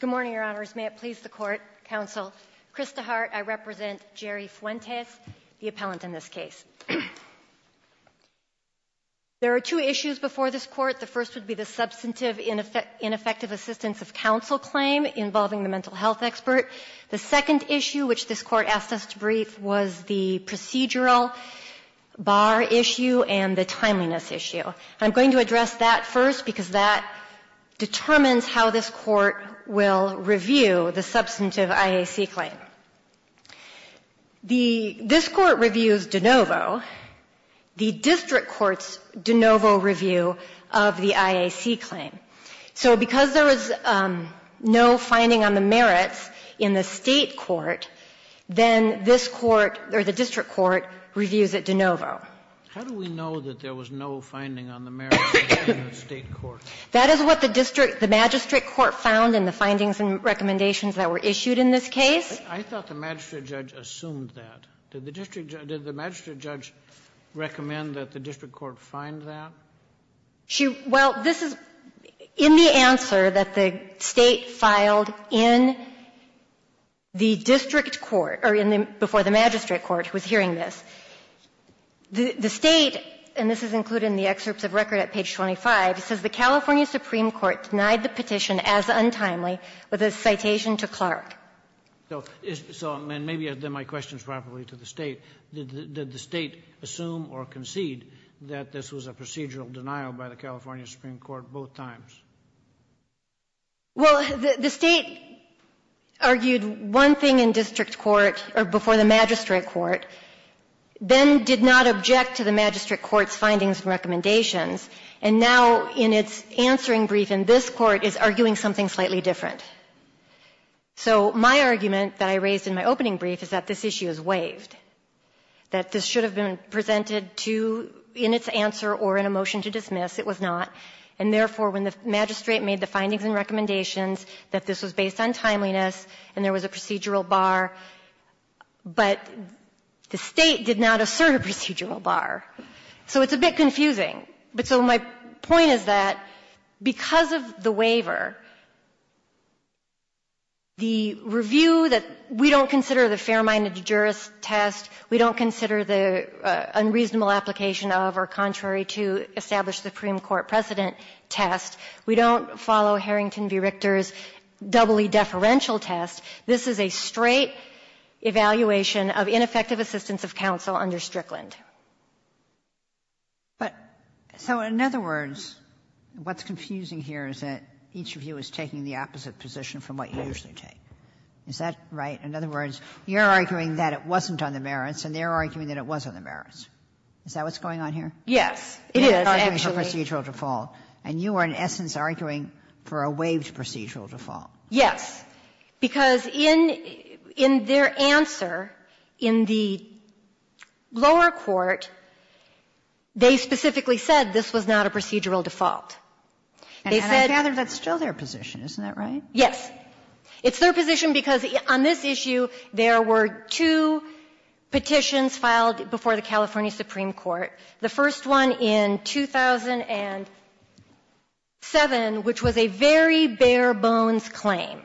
Good morning, Your Honors. May it please the Court, Counsel. Chris DeHart. I represent Jerry Fuentes, the appellant in this case. There are two issues before this Court. The first would be the substantive ineffective assistance of counsel claim involving the second issue, which this Court asked us to brief, was the procedural bar issue and the timeliness issue. I'm going to address that first because that determines how this Court will review the substantive IAC claim. The — this Court reviews de novo, the district court's de novo review of the IAC claim. So because there was no finding on the merits in the State court, then this Court, or the district court, reviews it de novo. How do we know that there was no finding on the merits in the State court? That is what the district — the magistrate court found in the findings and recommendations that were issued in this case. I thought the magistrate judge assumed that. Did the district — did the magistrate judge recommend that the district court find that? She — well, this is — in the answer that the State filed in the district court, or in the — before the magistrate court was hearing this, the State, and this is included in the excerpts of record at page 25, says the California supreme court denied the petition as untimely with a citation to Clark. So — so, and maybe then my question is probably to the State. Did the State assume or concede that this was a procedural denial by the California supreme court both times? Well, the State argued one thing in district court — or before the magistrate court, then did not object to the magistrate court's findings and recommendations. And now, in its answering brief in this court, is arguing something slightly different. So my argument that I raised in my opening brief is that this issue is waived, that this should have been presented to — in its answer or in a motion to dismiss. It was not. And therefore, when the magistrate made the findings and recommendations that this was based on timeliness and there was a procedural bar, but the State did not assert a procedural bar. So it's a bit confusing. But so my point is that because of the waiver, the review that we don't consider the fair-minded jurist test, we don't consider the unreasonable application of or contrary to established supreme court precedent test, we don't follow Harrington v. Richter's doubly deferential test. This is a straight evaluation of ineffective assistance of counsel under Strickland. But so in other words, what's confusing here is that each of you is taking the opposite position from what you usually take. Is that right? In other words, you're arguing that it wasn't on the merits, and they're arguing that it was on the merits. Is that what's going on here? Yes, it is, actually. You're arguing for procedural default, and you are, in essence, arguing for a waived procedural default. Yes, because in their answer in the lower court, they specifically said this was not a procedural default. They said that's still their position. Isn't that right? Yes. It's their position because on this issue, there were two petitions filed before the California Supreme Court, the first one in 2007, which was a very bare-bones claim.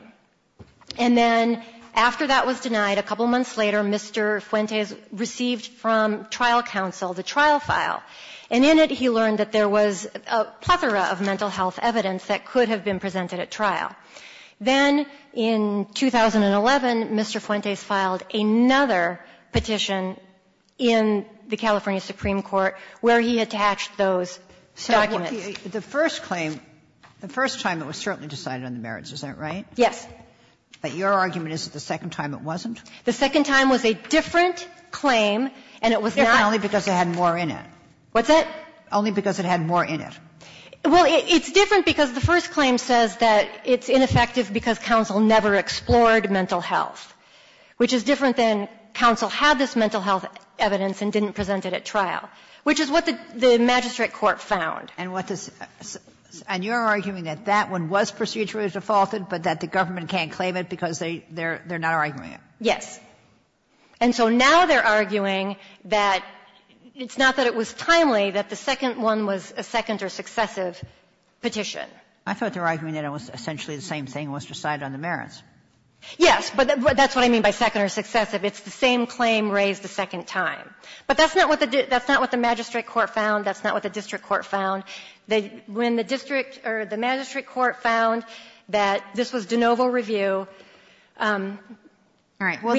And then after that was denied, a couple of months later, Mr. Fuentes received from trial counsel the trial file. And in it, he learned that there was a plethora of mental health evidence that could have been presented at trial. Then in 2011, Mr. Fuentes filed another petition in the California Supreme Court where he attached those documents. The first claim, the first time it was certainly decided on the merits, is that right? Yes. But your argument is that the second time it wasn't? The second time was a different claim, and it was not. Only because it had more in it. What's that? Only because it had more in it. Well, it's different because the first claim says that it's ineffective because counsel never explored mental health, which is different than counsel had this mental health evidence and didn't present it at trial, which is what the magistrate court found. And what this – and you're arguing that that one was procedurally defaulted, but that the government can't claim it because they're not arguing it? Yes. And so now they're arguing that it's not that it was timely, that the second one was a second or successive petition. I thought they were arguing that it was essentially the same thing, it was decided on the merits. Yes, but that's what I mean by second or successive. It's the same claim raised a second time. But that's not what the magistrate court found. That's not what the district court found. When the district or the magistrate court found that this was de novo review, we had the other. All right. Well,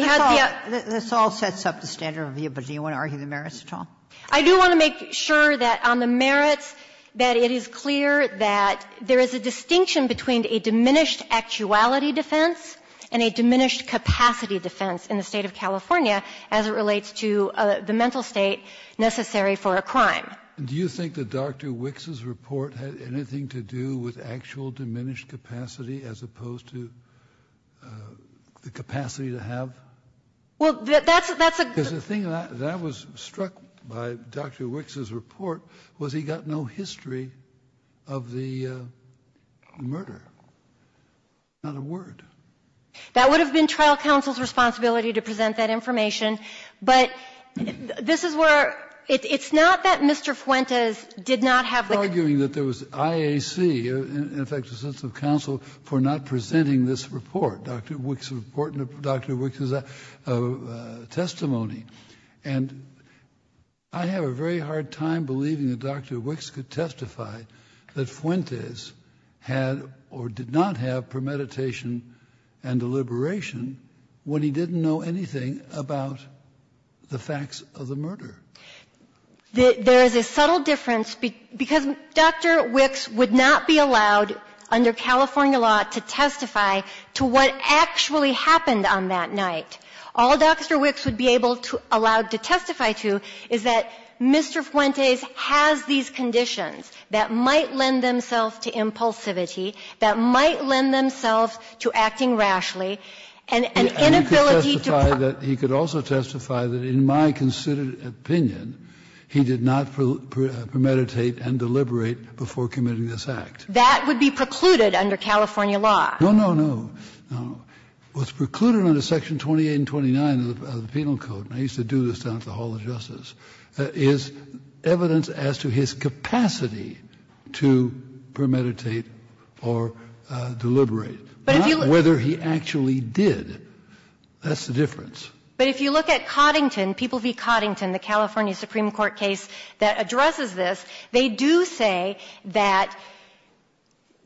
this all sets up the standard of review, but do you want to argue the merits at all? I do want to make sure that on the merits that it is clear that there is a distinction between a diminished actuality defense and a diminished capacity defense in the State of California as it relates to the mental state necessary for a crime. Do you think that Dr. Wicks's report had anything to do with actual diminished capacity as opposed to the capacity to have? Well, that's a thing that was struck by Dr. Wicks's report was he got no history of the murder, not a word. That would have been trial counsel's responsibility to present that information. But this is where it's not that Mr. Fuentes did not have the. I'm arguing that there was IAC, in effect, a sense of counsel, for not presenting this report, Dr. Wicks's report and Dr. Wicks's testimony. And I have a very hard time believing that Dr. Wicks could testify that Fuentes had or did not have premeditation and deliberation when he didn't know anything about the facts of the murder. There is a subtle difference because Dr. Wicks would not be allowed under California law to testify to what actually happened on that night. All Dr. Wicks would be able to allowed to testify to is that Mr. Fuentes has these inclinations to impulsivity that might lend themselves to acting rashly and inability And he could testify that he could also testify that, in my considered opinion, he did not premeditate and deliberate before committing this act. That would be precluded under California law. No, no, no, no. What's precluded under Section 28 and 29 of the Penal Code, and I used to do this down at the Hall of Justice, is evidence as to his capacity to premeditate or deliberate, not whether he actually did. That's the difference. But if you look at Coddington, People v. Coddington, the California Supreme Court case that addresses this, they do say that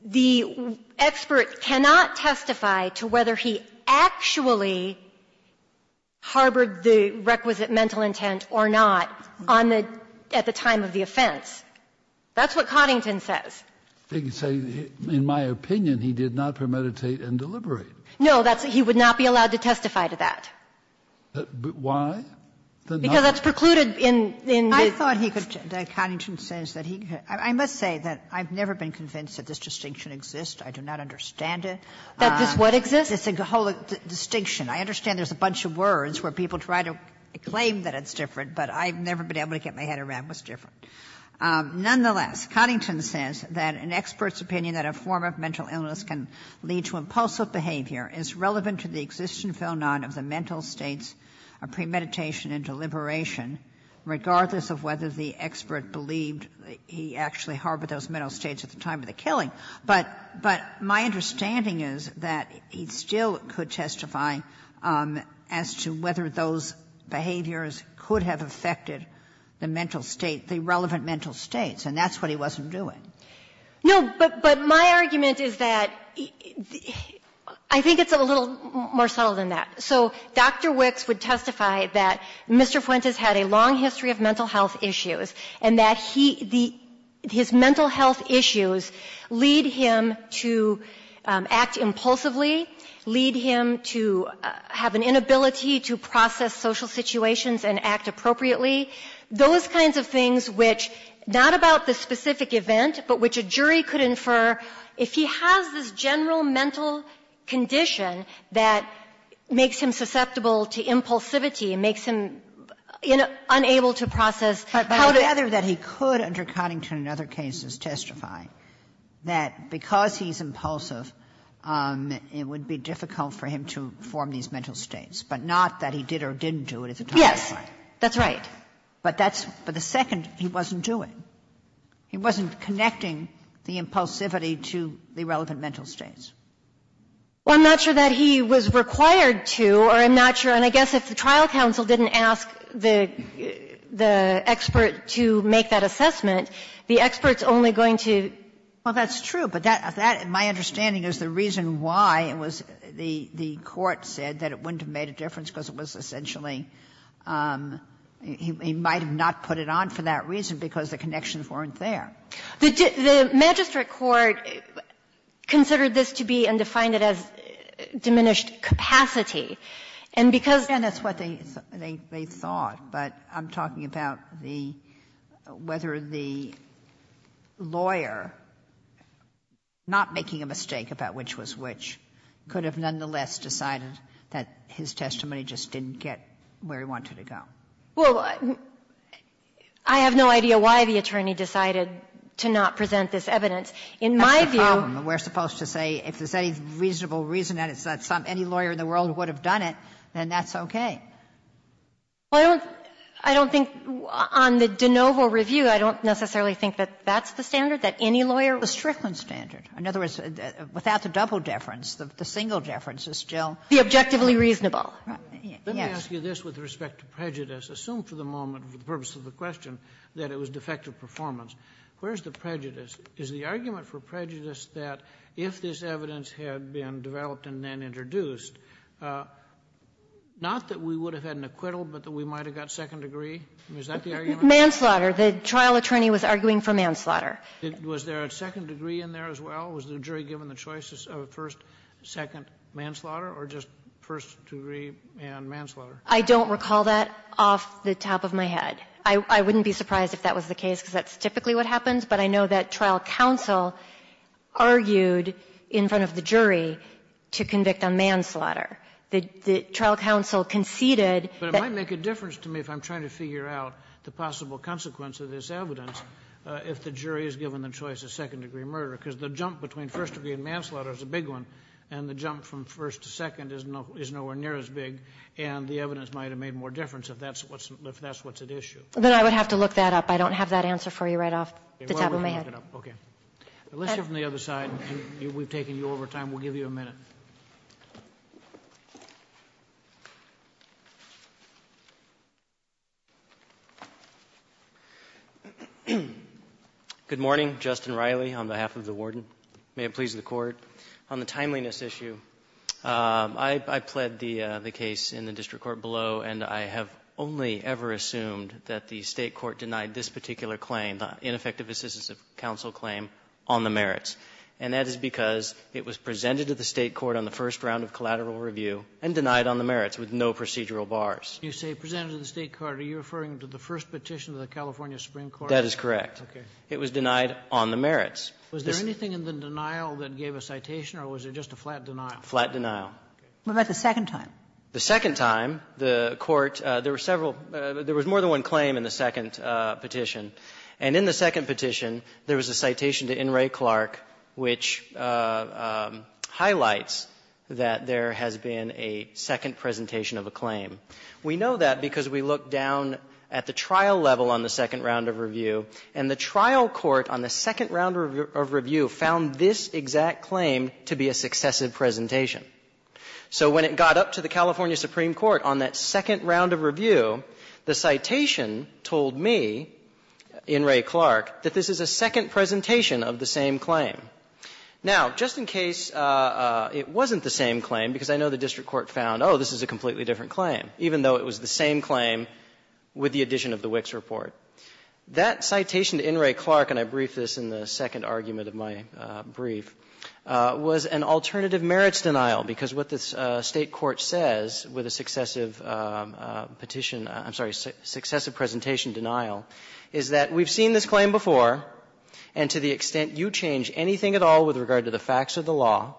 the expert cannot testify to whether he actually harbored the requisite mental intent or not on the at the time of the offense. That's what Coddington says. They say, in my opinion, he did not premeditate and deliberate. No, that's he would not be allowed to testify to that. Why? Because that's precluded in the I thought he could, Coddington says that he, I must say that I've never been convinced that this distinction exists. I do not understand it. That this what exists? This whole distinction. I understand there's a bunch of words where people try to claim that it's different, but I've never been able to get my head around what's different. Nonetheless, Coddington says that an expert's opinion that a form of mental illness can lead to impulsive behavior is relevant to the existence or none of the mental states of premeditation and deliberation, regardless of whether the expert believed he actually harbored those mental states at the time of the killing. But my understanding is that he still could testify as to whether those behaviors could have affected the mental state, the relevant mental states, and that's what he wasn't doing. No, but my argument is that I think it's a little more subtle than that. So Dr. Wicks would testify that Mr. Fuentes had a long history of mental health issues, and that he the his mental health issues lead him to act impulsively, lead him to have an inability to process social situations and act appropriately, those kinds of things which, not about the specific event, but which a jury could infer, if he has this general mental condition that makes him susceptible to impulsivity, makes him unable to process how to do it. Kagan. But I would rather that he could, under Coddington and other cases, testify that because he's impulsive, it would be difficult for him to form these mental states, but not that he did or didn't do it at the time of the killing. Yes, that's right. But that's the second he wasn't doing. He wasn't connecting the impulsivity to the relevant mental states. Well, I'm not sure that he was required to, or I'm not sure, and I guess if the trial counsel didn't ask the expert to make that assessment, the expert's only going to. Well, that's true, but that, my understanding is the reason why it was, the court said that it wouldn't have made a difference because it was essentially, he might have not put it on for that reason because the connections weren't there. The magistrate court considered this to be and defined it as diminished capacity. And because the court said that, and that's what they thought, but I'm talking about the, whether the lawyer, not making a mistake about which was which, could have nonetheless decided that his testimony just didn't get where he wanted it to go. Well, I have no idea why the attorney decided to not present this evidence. In my view we're supposed to say if there's any reasonable reason that it's not some any lawyer in the world would have done it, then that's okay. Well, I don't think on the de novo review, I don't necessarily think that that's the standard, that any lawyer. The Strickland standard. In other words, without the double deference, the single deference is still. The objectively reasonable. Yes. I'm going to ask you this with respect to prejudice. Assume for the moment, for the purpose of the question, that it was defective performance. Where's the prejudice? Is the argument for prejudice that if this evidence had been developed and then introduced, not that we would have had an acquittal, but that we might have got second degree? Is that the argument? Manslaughter. The trial attorney was arguing for manslaughter. Was there a second degree in there as well? Was the jury given the choice of first, second, manslaughter, or just first degree and manslaughter? I don't recall that off the top of my head. I wouldn't be surprised if that was the case, because that's typically what happens. But I know that trial counsel argued in front of the jury to convict on manslaughter. The trial counsel conceded that the jury was given the choice of first degree and manslaughter. But it might make a difference to me if I'm trying to figure out the possible consequence of this evidence if the jury is given the choice of second degree murder, because the jump between first degree and manslaughter is a big one, and the jump from first to second is nowhere near as big, and the evidence might have made more difference if that's what's at issue. Then I would have to look that up. I don't have that answer for you right off the top of my head. Okay. Let's hear from the other side. We've taken you over time. We'll give you a minute. Justin Riley on behalf of the Warden. May it please the Court. On the timeliness issue, I pled the case in the district court below, and I have only ever assumed that the State court denied this particular claim, the ineffective assistance of counsel claim, on the merits. And that is because it was presented to the State court on the first round of collateral review and denied on the merits with no procedural bars. You say presented to the State court. Are you referring to the first petition to the California Supreme Court? That is correct. Okay. It was denied on the merits. Was there anything in the denial that gave a citation, or was it just a flat denial? Flat denial. What about the second time? The second time, the Court – there were several – there was more than one claim in the second petition. And in the second petition, there was a citation to Inouye Clark which highlights that there has been a second presentation of a claim. We know that because we look down at the trial level on the second round of review, and the trial court on the second round of review found this exact claim to be a successive presentation. So when it got up to the California Supreme Court on that second round of review, the citation told me, Inouye Clark, that this is a second presentation of the same claim. Now, just in case it wasn't the same claim, because I know the district court found, oh, this is a completely different claim, even though it was the same claim with the addition of the Wicks report. That citation to Inouye Clark, and I briefed this in the second argument of my brief, was an alternative merits denial, because what the State court says with a successive petition – I'm sorry, successive presentation denial, is that we've seen this claim before, and to the extent you change anything at all with regard to the facts of the law,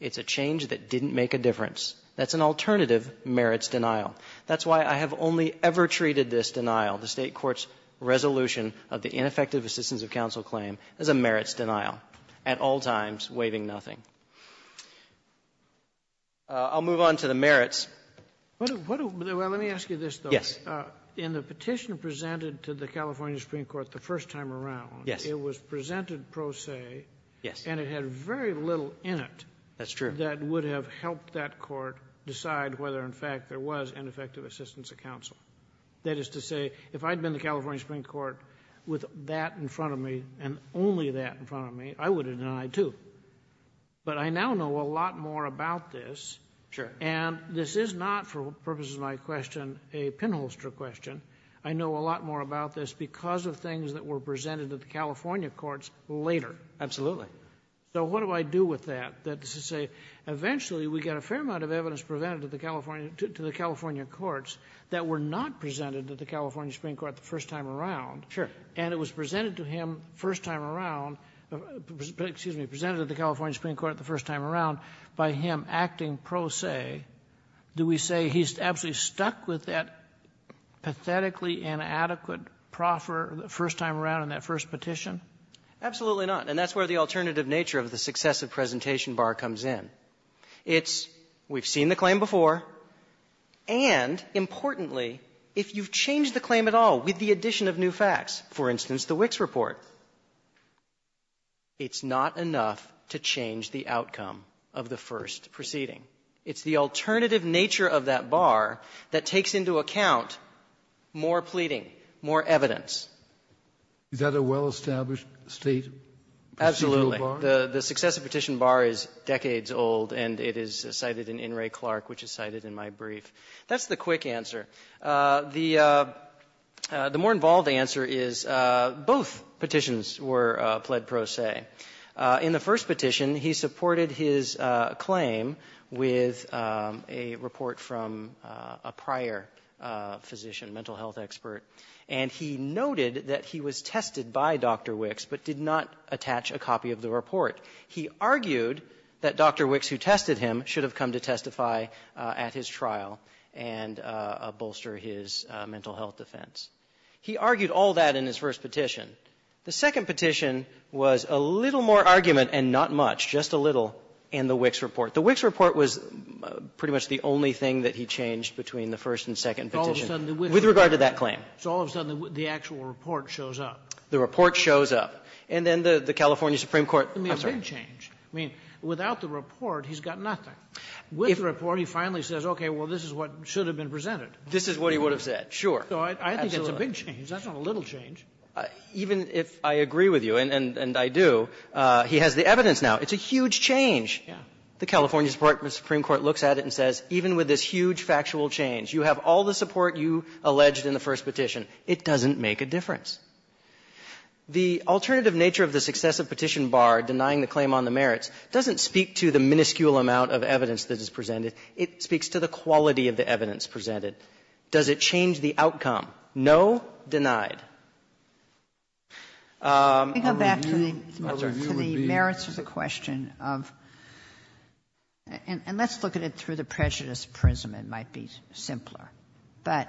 it's a change that didn't make a difference. That's an alternative merits denial. That's why I have only ever treated this denial, the State court's resolution of the ineffective assistance of counsel claim, as a merits denial, at all times waiving nothing. I'll move on to the merits. Sotomayor, well, let me ask you this, though. Yes. In the petition presented to the California Supreme Court the first time around, it was presented pro se, and it had very little in it that would have helped that ineffective assistance of counsel. That is to say, if I'd been the California Supreme Court with that in front of me, and only that in front of me, I would have denied, too. But I now know a lot more about this. Sure. And this is not, for purposes of my question, a pinholster question. I know a lot more about this because of things that were presented at the California courts later. Absolutely. So what do I do with that? That is to say, eventually, we got a fair amount of evidence presented to the California courts that were not presented to the California Supreme Court the first time around. Sure. And it was presented to him the first time around by him acting pro se. Do we say he's absolutely stuck with that pathetically inadequate proffer the first time around in that first petition? Absolutely not. And that's where the alternative nature of the successive presentation bar comes in. It's, we've seen the claim before, and, importantly, if you've changed the claim at all with the addition of new facts, for instance, the Wicks report, it's not enough to change the outcome of the first proceeding. It's the alternative nature of that bar that takes into account more pleading, more evidence. Absolutely. The successive petition bar is decades old, and it is cited in In re Clark, which is cited in my brief. That's the quick answer. The more involved answer is both petitions were pled pro se. In the first petition, he supported his claim with a report from a prior physician, mental health expert. And he noted that he was tested by Dr. Wicks, but did not attach a copy of the report. He argued that Dr. Wicks, who tested him, should have come to testify at his trial and bolster his mental health defense. He argued all that in his first petition. The second petition was a little more argument and not much, just a little, in the Wicks report. The Wicks report was pretty much the only thing that he changed between the first and second petition. With regard to that claim. So all of a sudden, the actual report shows up. The report shows up. And then the California Supreme Court. I'm sorry. I mean, without the report, he's got nothing. With the report, he finally says, okay, well, this is what should have been presented. This is what he would have said, sure. So I think it's a big change. That's not a little change. Even if I agree with you, and I do, he has the evidence now. It's a huge change. The California Supreme Court looks at it and says, even with this huge factual change, you have all the support you alleged in the first petition, it doesn't make a difference. The alternative nature of the successive petition bar denying the claim on the merits doesn't speak to the minuscule amount of evidence that is presented. It speaks to the quality of the evidence presented. Does it change the outcome? No. Denied. Sotomayor, I'm sorry. Sotomayor, the merits is a question of and let's look at it through the prejudice prism, it might be simpler. But,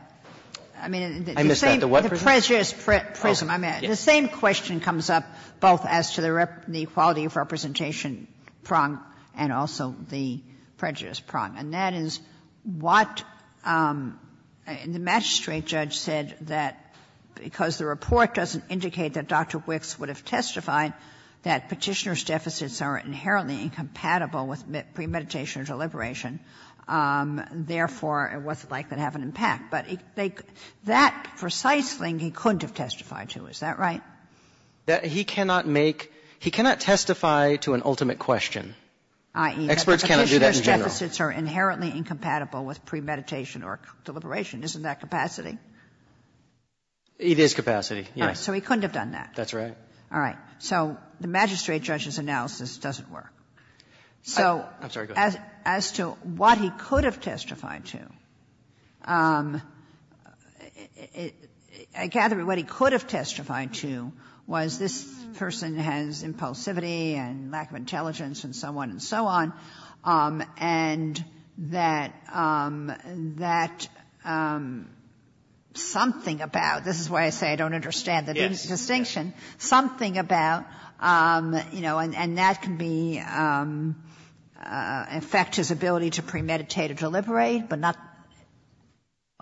I mean, the same prejudice prism, I mean, the same question comes up both as to the equality of representation prong and also the prejudice prong. And that is what the magistrate judge said that because the report doesn't indicate that Dr. Wicks would have testified that Petitioner's deficits are inherently incompatible with premeditation or deliberation, therefore, it was likely to have an impact. But that precisely he couldn't have testified to, is that right? He cannot make he cannot testify to an ultimate question. I.e. Experts cannot do that in general. Petitioner's deficits are inherently incompatible with premeditation or deliberation. Isn't that capacity? It is capacity, yes. So he couldn't have done that. That's right. All right. So the magistrate judge's analysis doesn't work. So as to what he could have testified to, I gather what he could have testified to was this person has impulsivity and lack of intelligence and so on and so on, and that that something about this is why I say I don't understand the distinction, something about, you know, and that can be in effect his ability to premeditate or deliberate, but not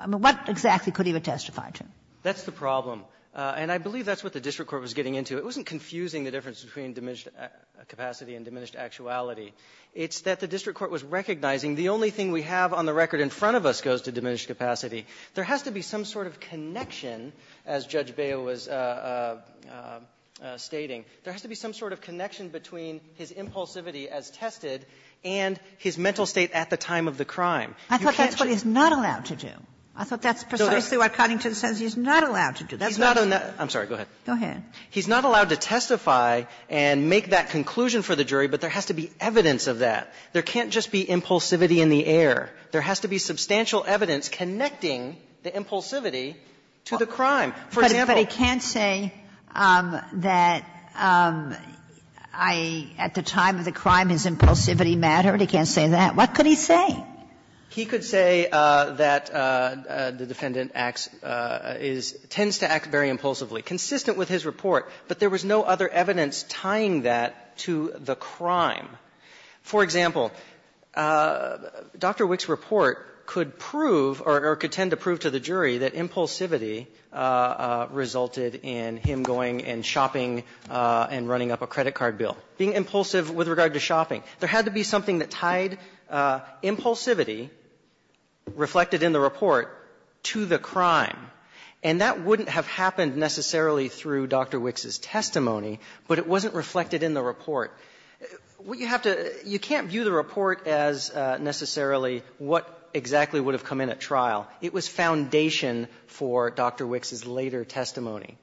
what exactly could he have testified to? That's the problem. And I believe that's what the district court was getting into. It wasn't confusing the difference between diminished capacity and diminished actuality. It's that the district court was recognizing the only thing we have on the record in front of us goes to diminished capacity. There has to be some sort of connection, as Judge Beyo was stating. There has to be some sort of connection between his impulsivity as tested and his mental state at the time of the crime. You can't just do that. I thought that's what he's not allowed to do. I thought that's precisely what Coddington says he's not allowed to do. That's not a net --" I'm sorry. Go ahead. Go ahead. He's not allowed to testify and make that conclusion for the jury, but there has to be evidence of that. There can't just be impulsivity in the air. There has to be substantial evidence connecting the impulsivity to the crime. For example --" But he can't say that I, at the time of the crime, his impulsivity mattered. He can't say that. What could he say? He could say that the defendant acts as he tends to act very impulsively, consistent with his report, but there was no other evidence tying that to the crime. For example, Dr. Wick's report could prove or could tend to prove to the jury that impulsivity resulted in him going and shopping and running up a credit card bill, being impulsive with regard to shopping. There had to be something that tied impulsivity reflected in the report to the crime. And that wouldn't have happened necessarily through Dr. Wick's testimony, but it wasn't reflected in the report. What you have to do, you can't view the report as necessarily what exactly would have come in at trial. It was foundation for Dr. Wick's later testimony.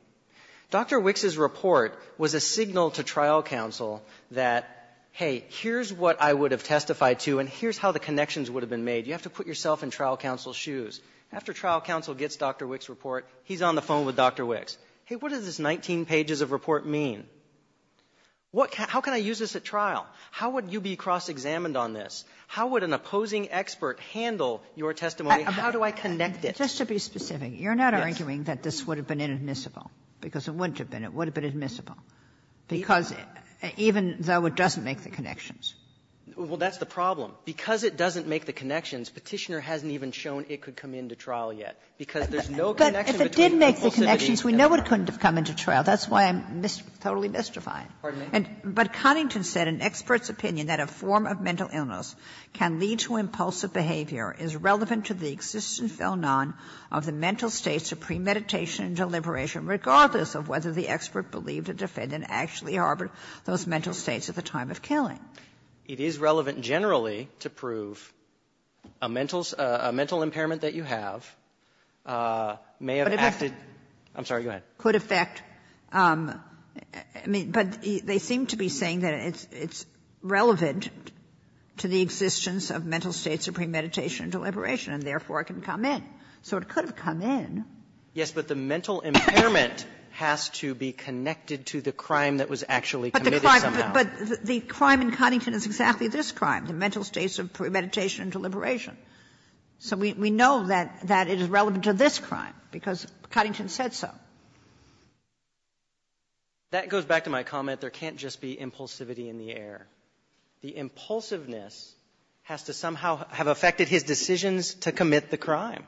Dr. Wick's report was a signal to trial counsel that, hey, here's what I would have testified to and here's how the connections would have been made. You have to put yourself in trial counsel's shoes. After trial counsel gets Dr. Wick's report, he's on the phone with Dr. Wick's. Hey, what does this 19 pages of report mean? How can I use this at trial? How would you be cross-examined on this? How would an opposing expert handle your testimony? How do I connect it? Ginsburg. Just to be specific, you're not arguing that this would have been inadmissible because it wouldn't have been. It would have been admissible, because even though it doesn't make the connections. Well, that's the problem. Because it doesn't make the connections, Petitioner hasn't even shown it could come into trial yet, because there's no connection between impulsivity and error. It didn't make the connections. We know it couldn't have come into trial. That's why I'm totally mystifying. Pardon me? But Cunnington said an expert's opinion that a form of mental illness can lead to impulsive behavior is relevant to the existence or none of the mental states of premeditation and deliberation, regardless of whether the expert believed a defendant actually harbored those mental states at the time of killing. It is relevant generally to prove a mental impairment that you have may have acted I'm sorry. Go ahead. Could affect. But they seem to be saying that it's relevant to the existence of mental states of premeditation and deliberation, and therefore it can come in. So it could have come in. Yes, but the mental impairment has to be connected to the crime that was actually committed somehow. But the crime in Cunnington is exactly this crime, the mental states of premeditation and deliberation. So we know that it is relevant to this crime because Cunnington said so. That goes back to my comment. There can't just be impulsivity in the air. The impulsiveness has to somehow have affected his decisions to commit the crime.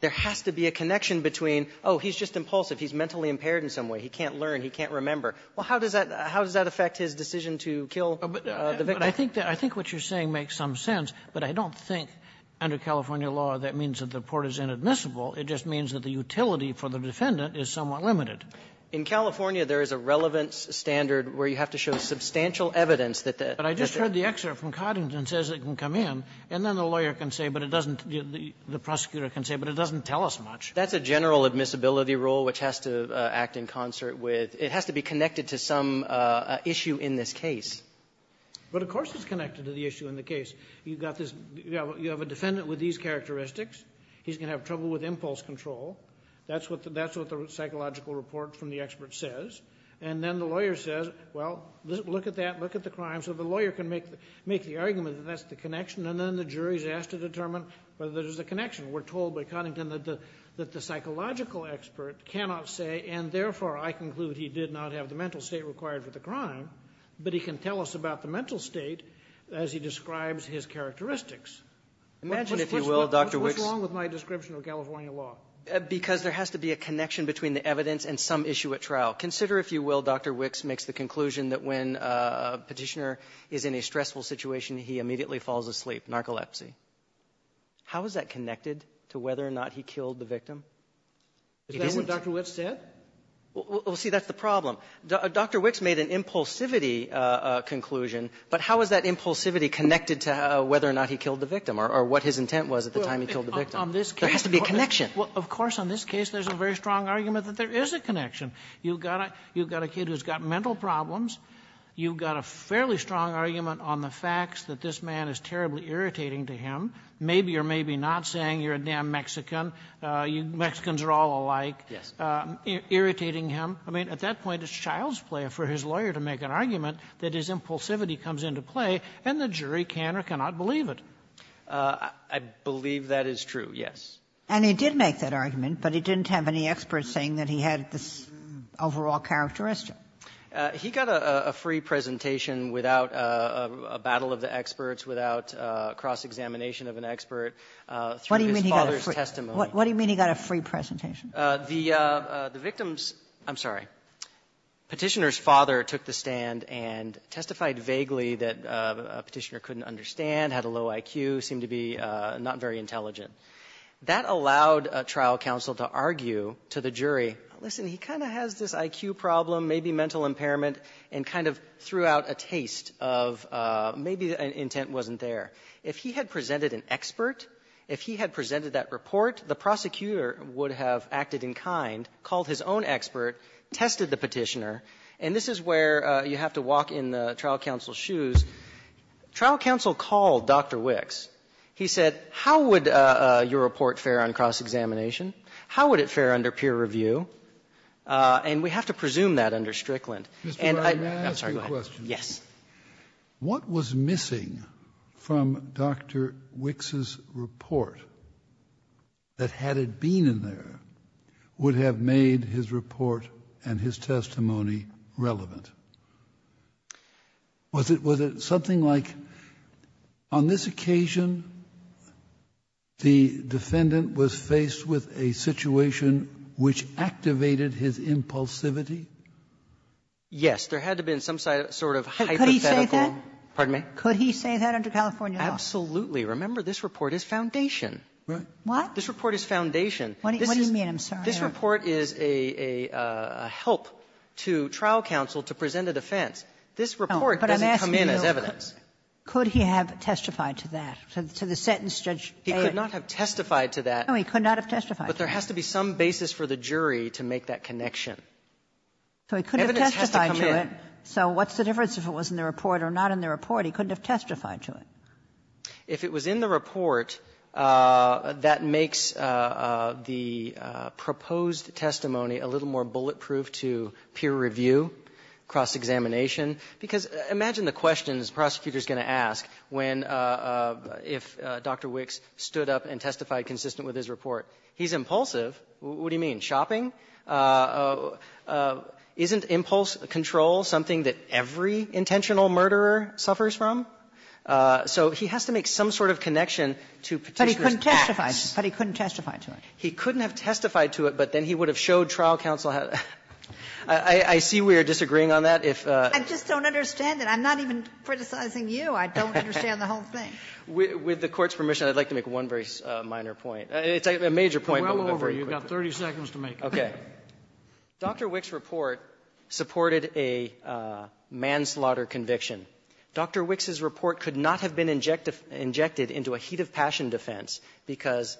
There has to be a connection between, oh, he's just impulsive. He's mentally impaired in some way. He can't learn. He can't remember. Well, how does that affect his decision to kill the victim? But I think that what you're saying makes some sense, but I don't think under California law that means that the report is inadmissible. It just means that the utility for the defendant is somewhat limited. In California, there is a relevance standard where you have to show substantial evidence that the attorney can say. But I just heard the excerpt from Coddington says it can come in, and then the lawyer can say, but it doesn't the prosecutor can say, but it doesn't tell us much. That's a general admissibility rule which has to act in concert with – it has to be connected to some issue in this case. But of course it's connected to the issue in the case. You've got this – you have a defendant with these characteristics. He's going to have trouble with impulse control. That's what the psychological report from the expert says. And then the lawyer says, well, look at that. Look at the crime. So the lawyer can make the argument that that's the connection. And then the jury is asked to determine whether there's a connection. We're told by Coddington that the psychological expert cannot say, and therefore, I conclude he did not have the mental state required for the crime. But he can tell us about the mental state as he describes his characteristics. Imagine, if you will, Dr. Wicks – What's wrong with my description of California law? Because there has to be a connection between the evidence and some issue at trial. Consider, if you will, Dr. Wicks makes the conclusion that when a Petitioner is in a stressful situation, he immediately falls asleep, narcolepsy. How is that connected to whether or not he killed the victim? Is that what Dr. Wicks said? Well, see, that's the problem. Dr. Wicks made an impulsivity conclusion, but how is that impulsivity connected to whether or not he killed the victim or what his intent was at the time he killed the victim? There has to be a connection. Well, of course, on this case, there's a very strong argument that there is a connection. You've got a kid who's got mental problems. You've got a fairly strong argument on the facts that this man is terribly irritating to him. Maybe or maybe not saying you're a damn Mexican. Mexicans are all alike. Irritating him. I mean, at that point, it's child's play for his lawyer to make an argument that his impulsivity comes into play, and the jury can or cannot believe it. I believe that is true, yes. And he did make that argument, but he didn't have any experts saying that he had this overall characteristic. He got a free presentation without a battle of the experts, without cross-examination of an expert through his father's testimony. What do you mean he got a free presentation? The victim's — I'm sorry. Petitioner's father took the stand and testified vaguely that Petitioner couldn't understand, had a low IQ, seemed to be not very intelligent. That allowed trial counsel to argue to the jury, listen, he kind of has this IQ problem, maybe mental impairment, and kind of threw out a taste of maybe intent wasn't there. If he had presented an expert, if he had presented that report, the prosecutor would have acted in kind, called his own expert, tested the Petitioner. And this is where you have to walk in the trial counsel's shoes. Trial counsel called Dr. Wicks. He said, how would your report fare on cross-examination? How would it fare under peer review? And we have to presume that under Strickland. Scalia, I'm sorry. Go ahead. Yes. What was missing from Dr. Wicks' report that, had it been in there, would have made his report and his testimony relevant? Was it — was it something like, on this occasion, the defendant was faced with a situation which activated his impulsivity? Yes. There had to have been some sort of hypothetical — Could he say that? Pardon me? Could he say that under California law? Absolutely. Remember, this report is foundation. Right. What? This report is foundation. What do you mean? I'm sorry. This report is a help to trial counsel to present a defense. This report doesn't come in as evidence. Could he have testified to that, to the sentence, Judge — He could not have testified to that. No, he could not have testified to that. But there has to be some basis for the jury to make that connection. So he couldn't have testified to it. So what's the difference if it was in the report or not in the report? He couldn't have testified to it. If it was in the report, that makes the proposed testimony a little more bulletproof to peer review, cross-examination. Because imagine the questions the prosecutor is going to ask when — if Dr. Wicks stood up and testified consistent with his report. He's impulsive. What do you mean? Shopping? Isn't impulse control something that every intentional murderer suffers from? So he has to make some sort of connection to Petitioner's text. But he couldn't testify to it. He couldn't have testified to it, but then he would have showed trial counsel had — I see we are disagreeing on that. I just don't understand it. I'm not even criticizing you. I don't understand the whole thing. With the Court's permission, I'd like to make one very minor point. It's a major point, but we'll go very quickly. You've got 30 seconds to make it. Okay. Dr. Wicks' report supported a manslaughter conviction. Dr. Wicks' report could not have been injected into a heat-of-passion defense because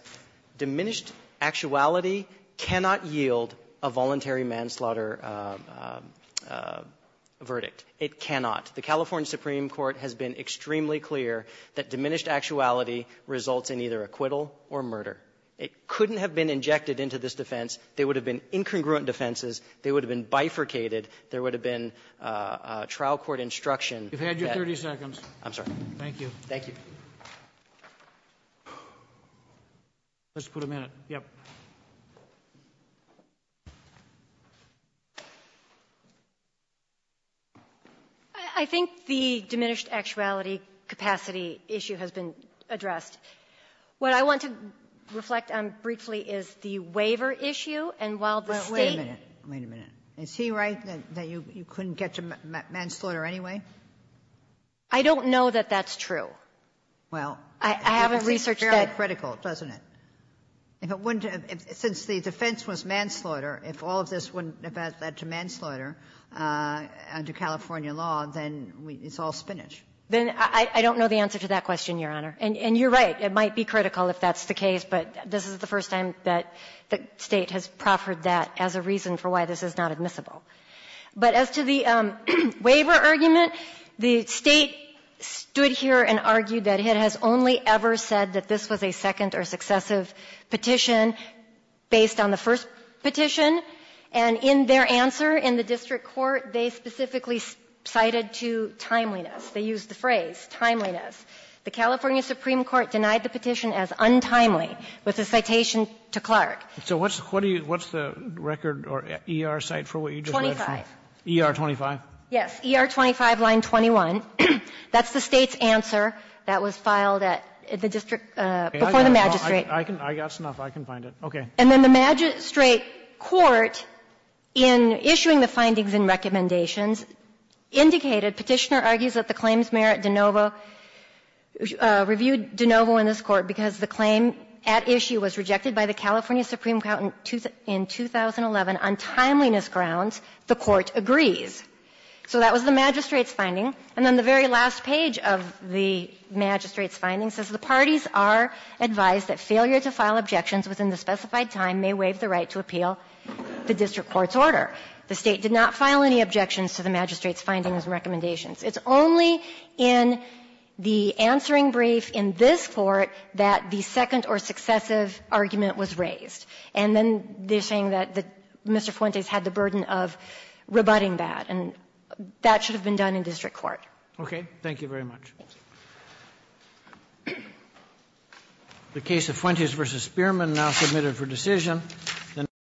diminished actuality cannot yield a voluntary manslaughter verdict. It cannot. The California Supreme Court has been extremely clear that diminished actuality results in either acquittal or murder. It couldn't have been injected into this defense. There would have been incongruent defenses. There would have been bifurcated. There would have been trial court instruction. You've had your 30 seconds. I'm sorry. Thank you. Thank you. Let's put a minute. Yes. I think the diminished actuality capacity issue has been addressed. What I want to reflect on briefly is the waiver issue. And while the State — Wait a minute. Wait a minute. Is he right that you couldn't get to manslaughter anyway? I don't know that that's true. Well — I haven't researched that. It's fairly critical, doesn't it? If it wouldn't have — since the defense was manslaughter, if all of this wouldn't have led to manslaughter under California law, then it's all spinach. Then I don't know the answer to that question, Your Honor. And you're right. It might be critical if that's the case. But this is the first time that the State has proffered that as a reason for why this is not admissible. But as to the waiver argument, the State stood here and argued that it has only ever said that this was a second or successive petition based on the first petition. And in their answer in the district court, they specifically cited to timeliness. They used the phrase timeliness. The California Supreme Court denied the petition as untimely with a citation to Clark. So what's the record or ER site for what you just read? 25. ER 25? Yes. ER 25, line 21. That's the State's answer that was filed at the district — before the magistrate. I can — I got this enough. I can find it. Okay. And then the magistrate court, in issuing the findings and recommendations, indicated, Petitioner argues that the claims merit de novo, reviewed de novo in this court because the claim at issue was rejected by the California Supreme Court in 2011 on timeliness grounds, the court agrees. So that was the magistrate's finding. And then the very last page of the magistrate's finding says the parties are advised that failure to file objections within the specified time may waive the right to appeal the district court's order. The State did not file any objections to the magistrate's findings and recommendations. It's only in the answering brief in this court that the second or successive argument was raised. And then they're saying that Mr. Fuentes had the burden of rebutting that, and that should have been done in district court. Okay. Thank you very much. The case of Fuentes v. Spearman now submitted for decision.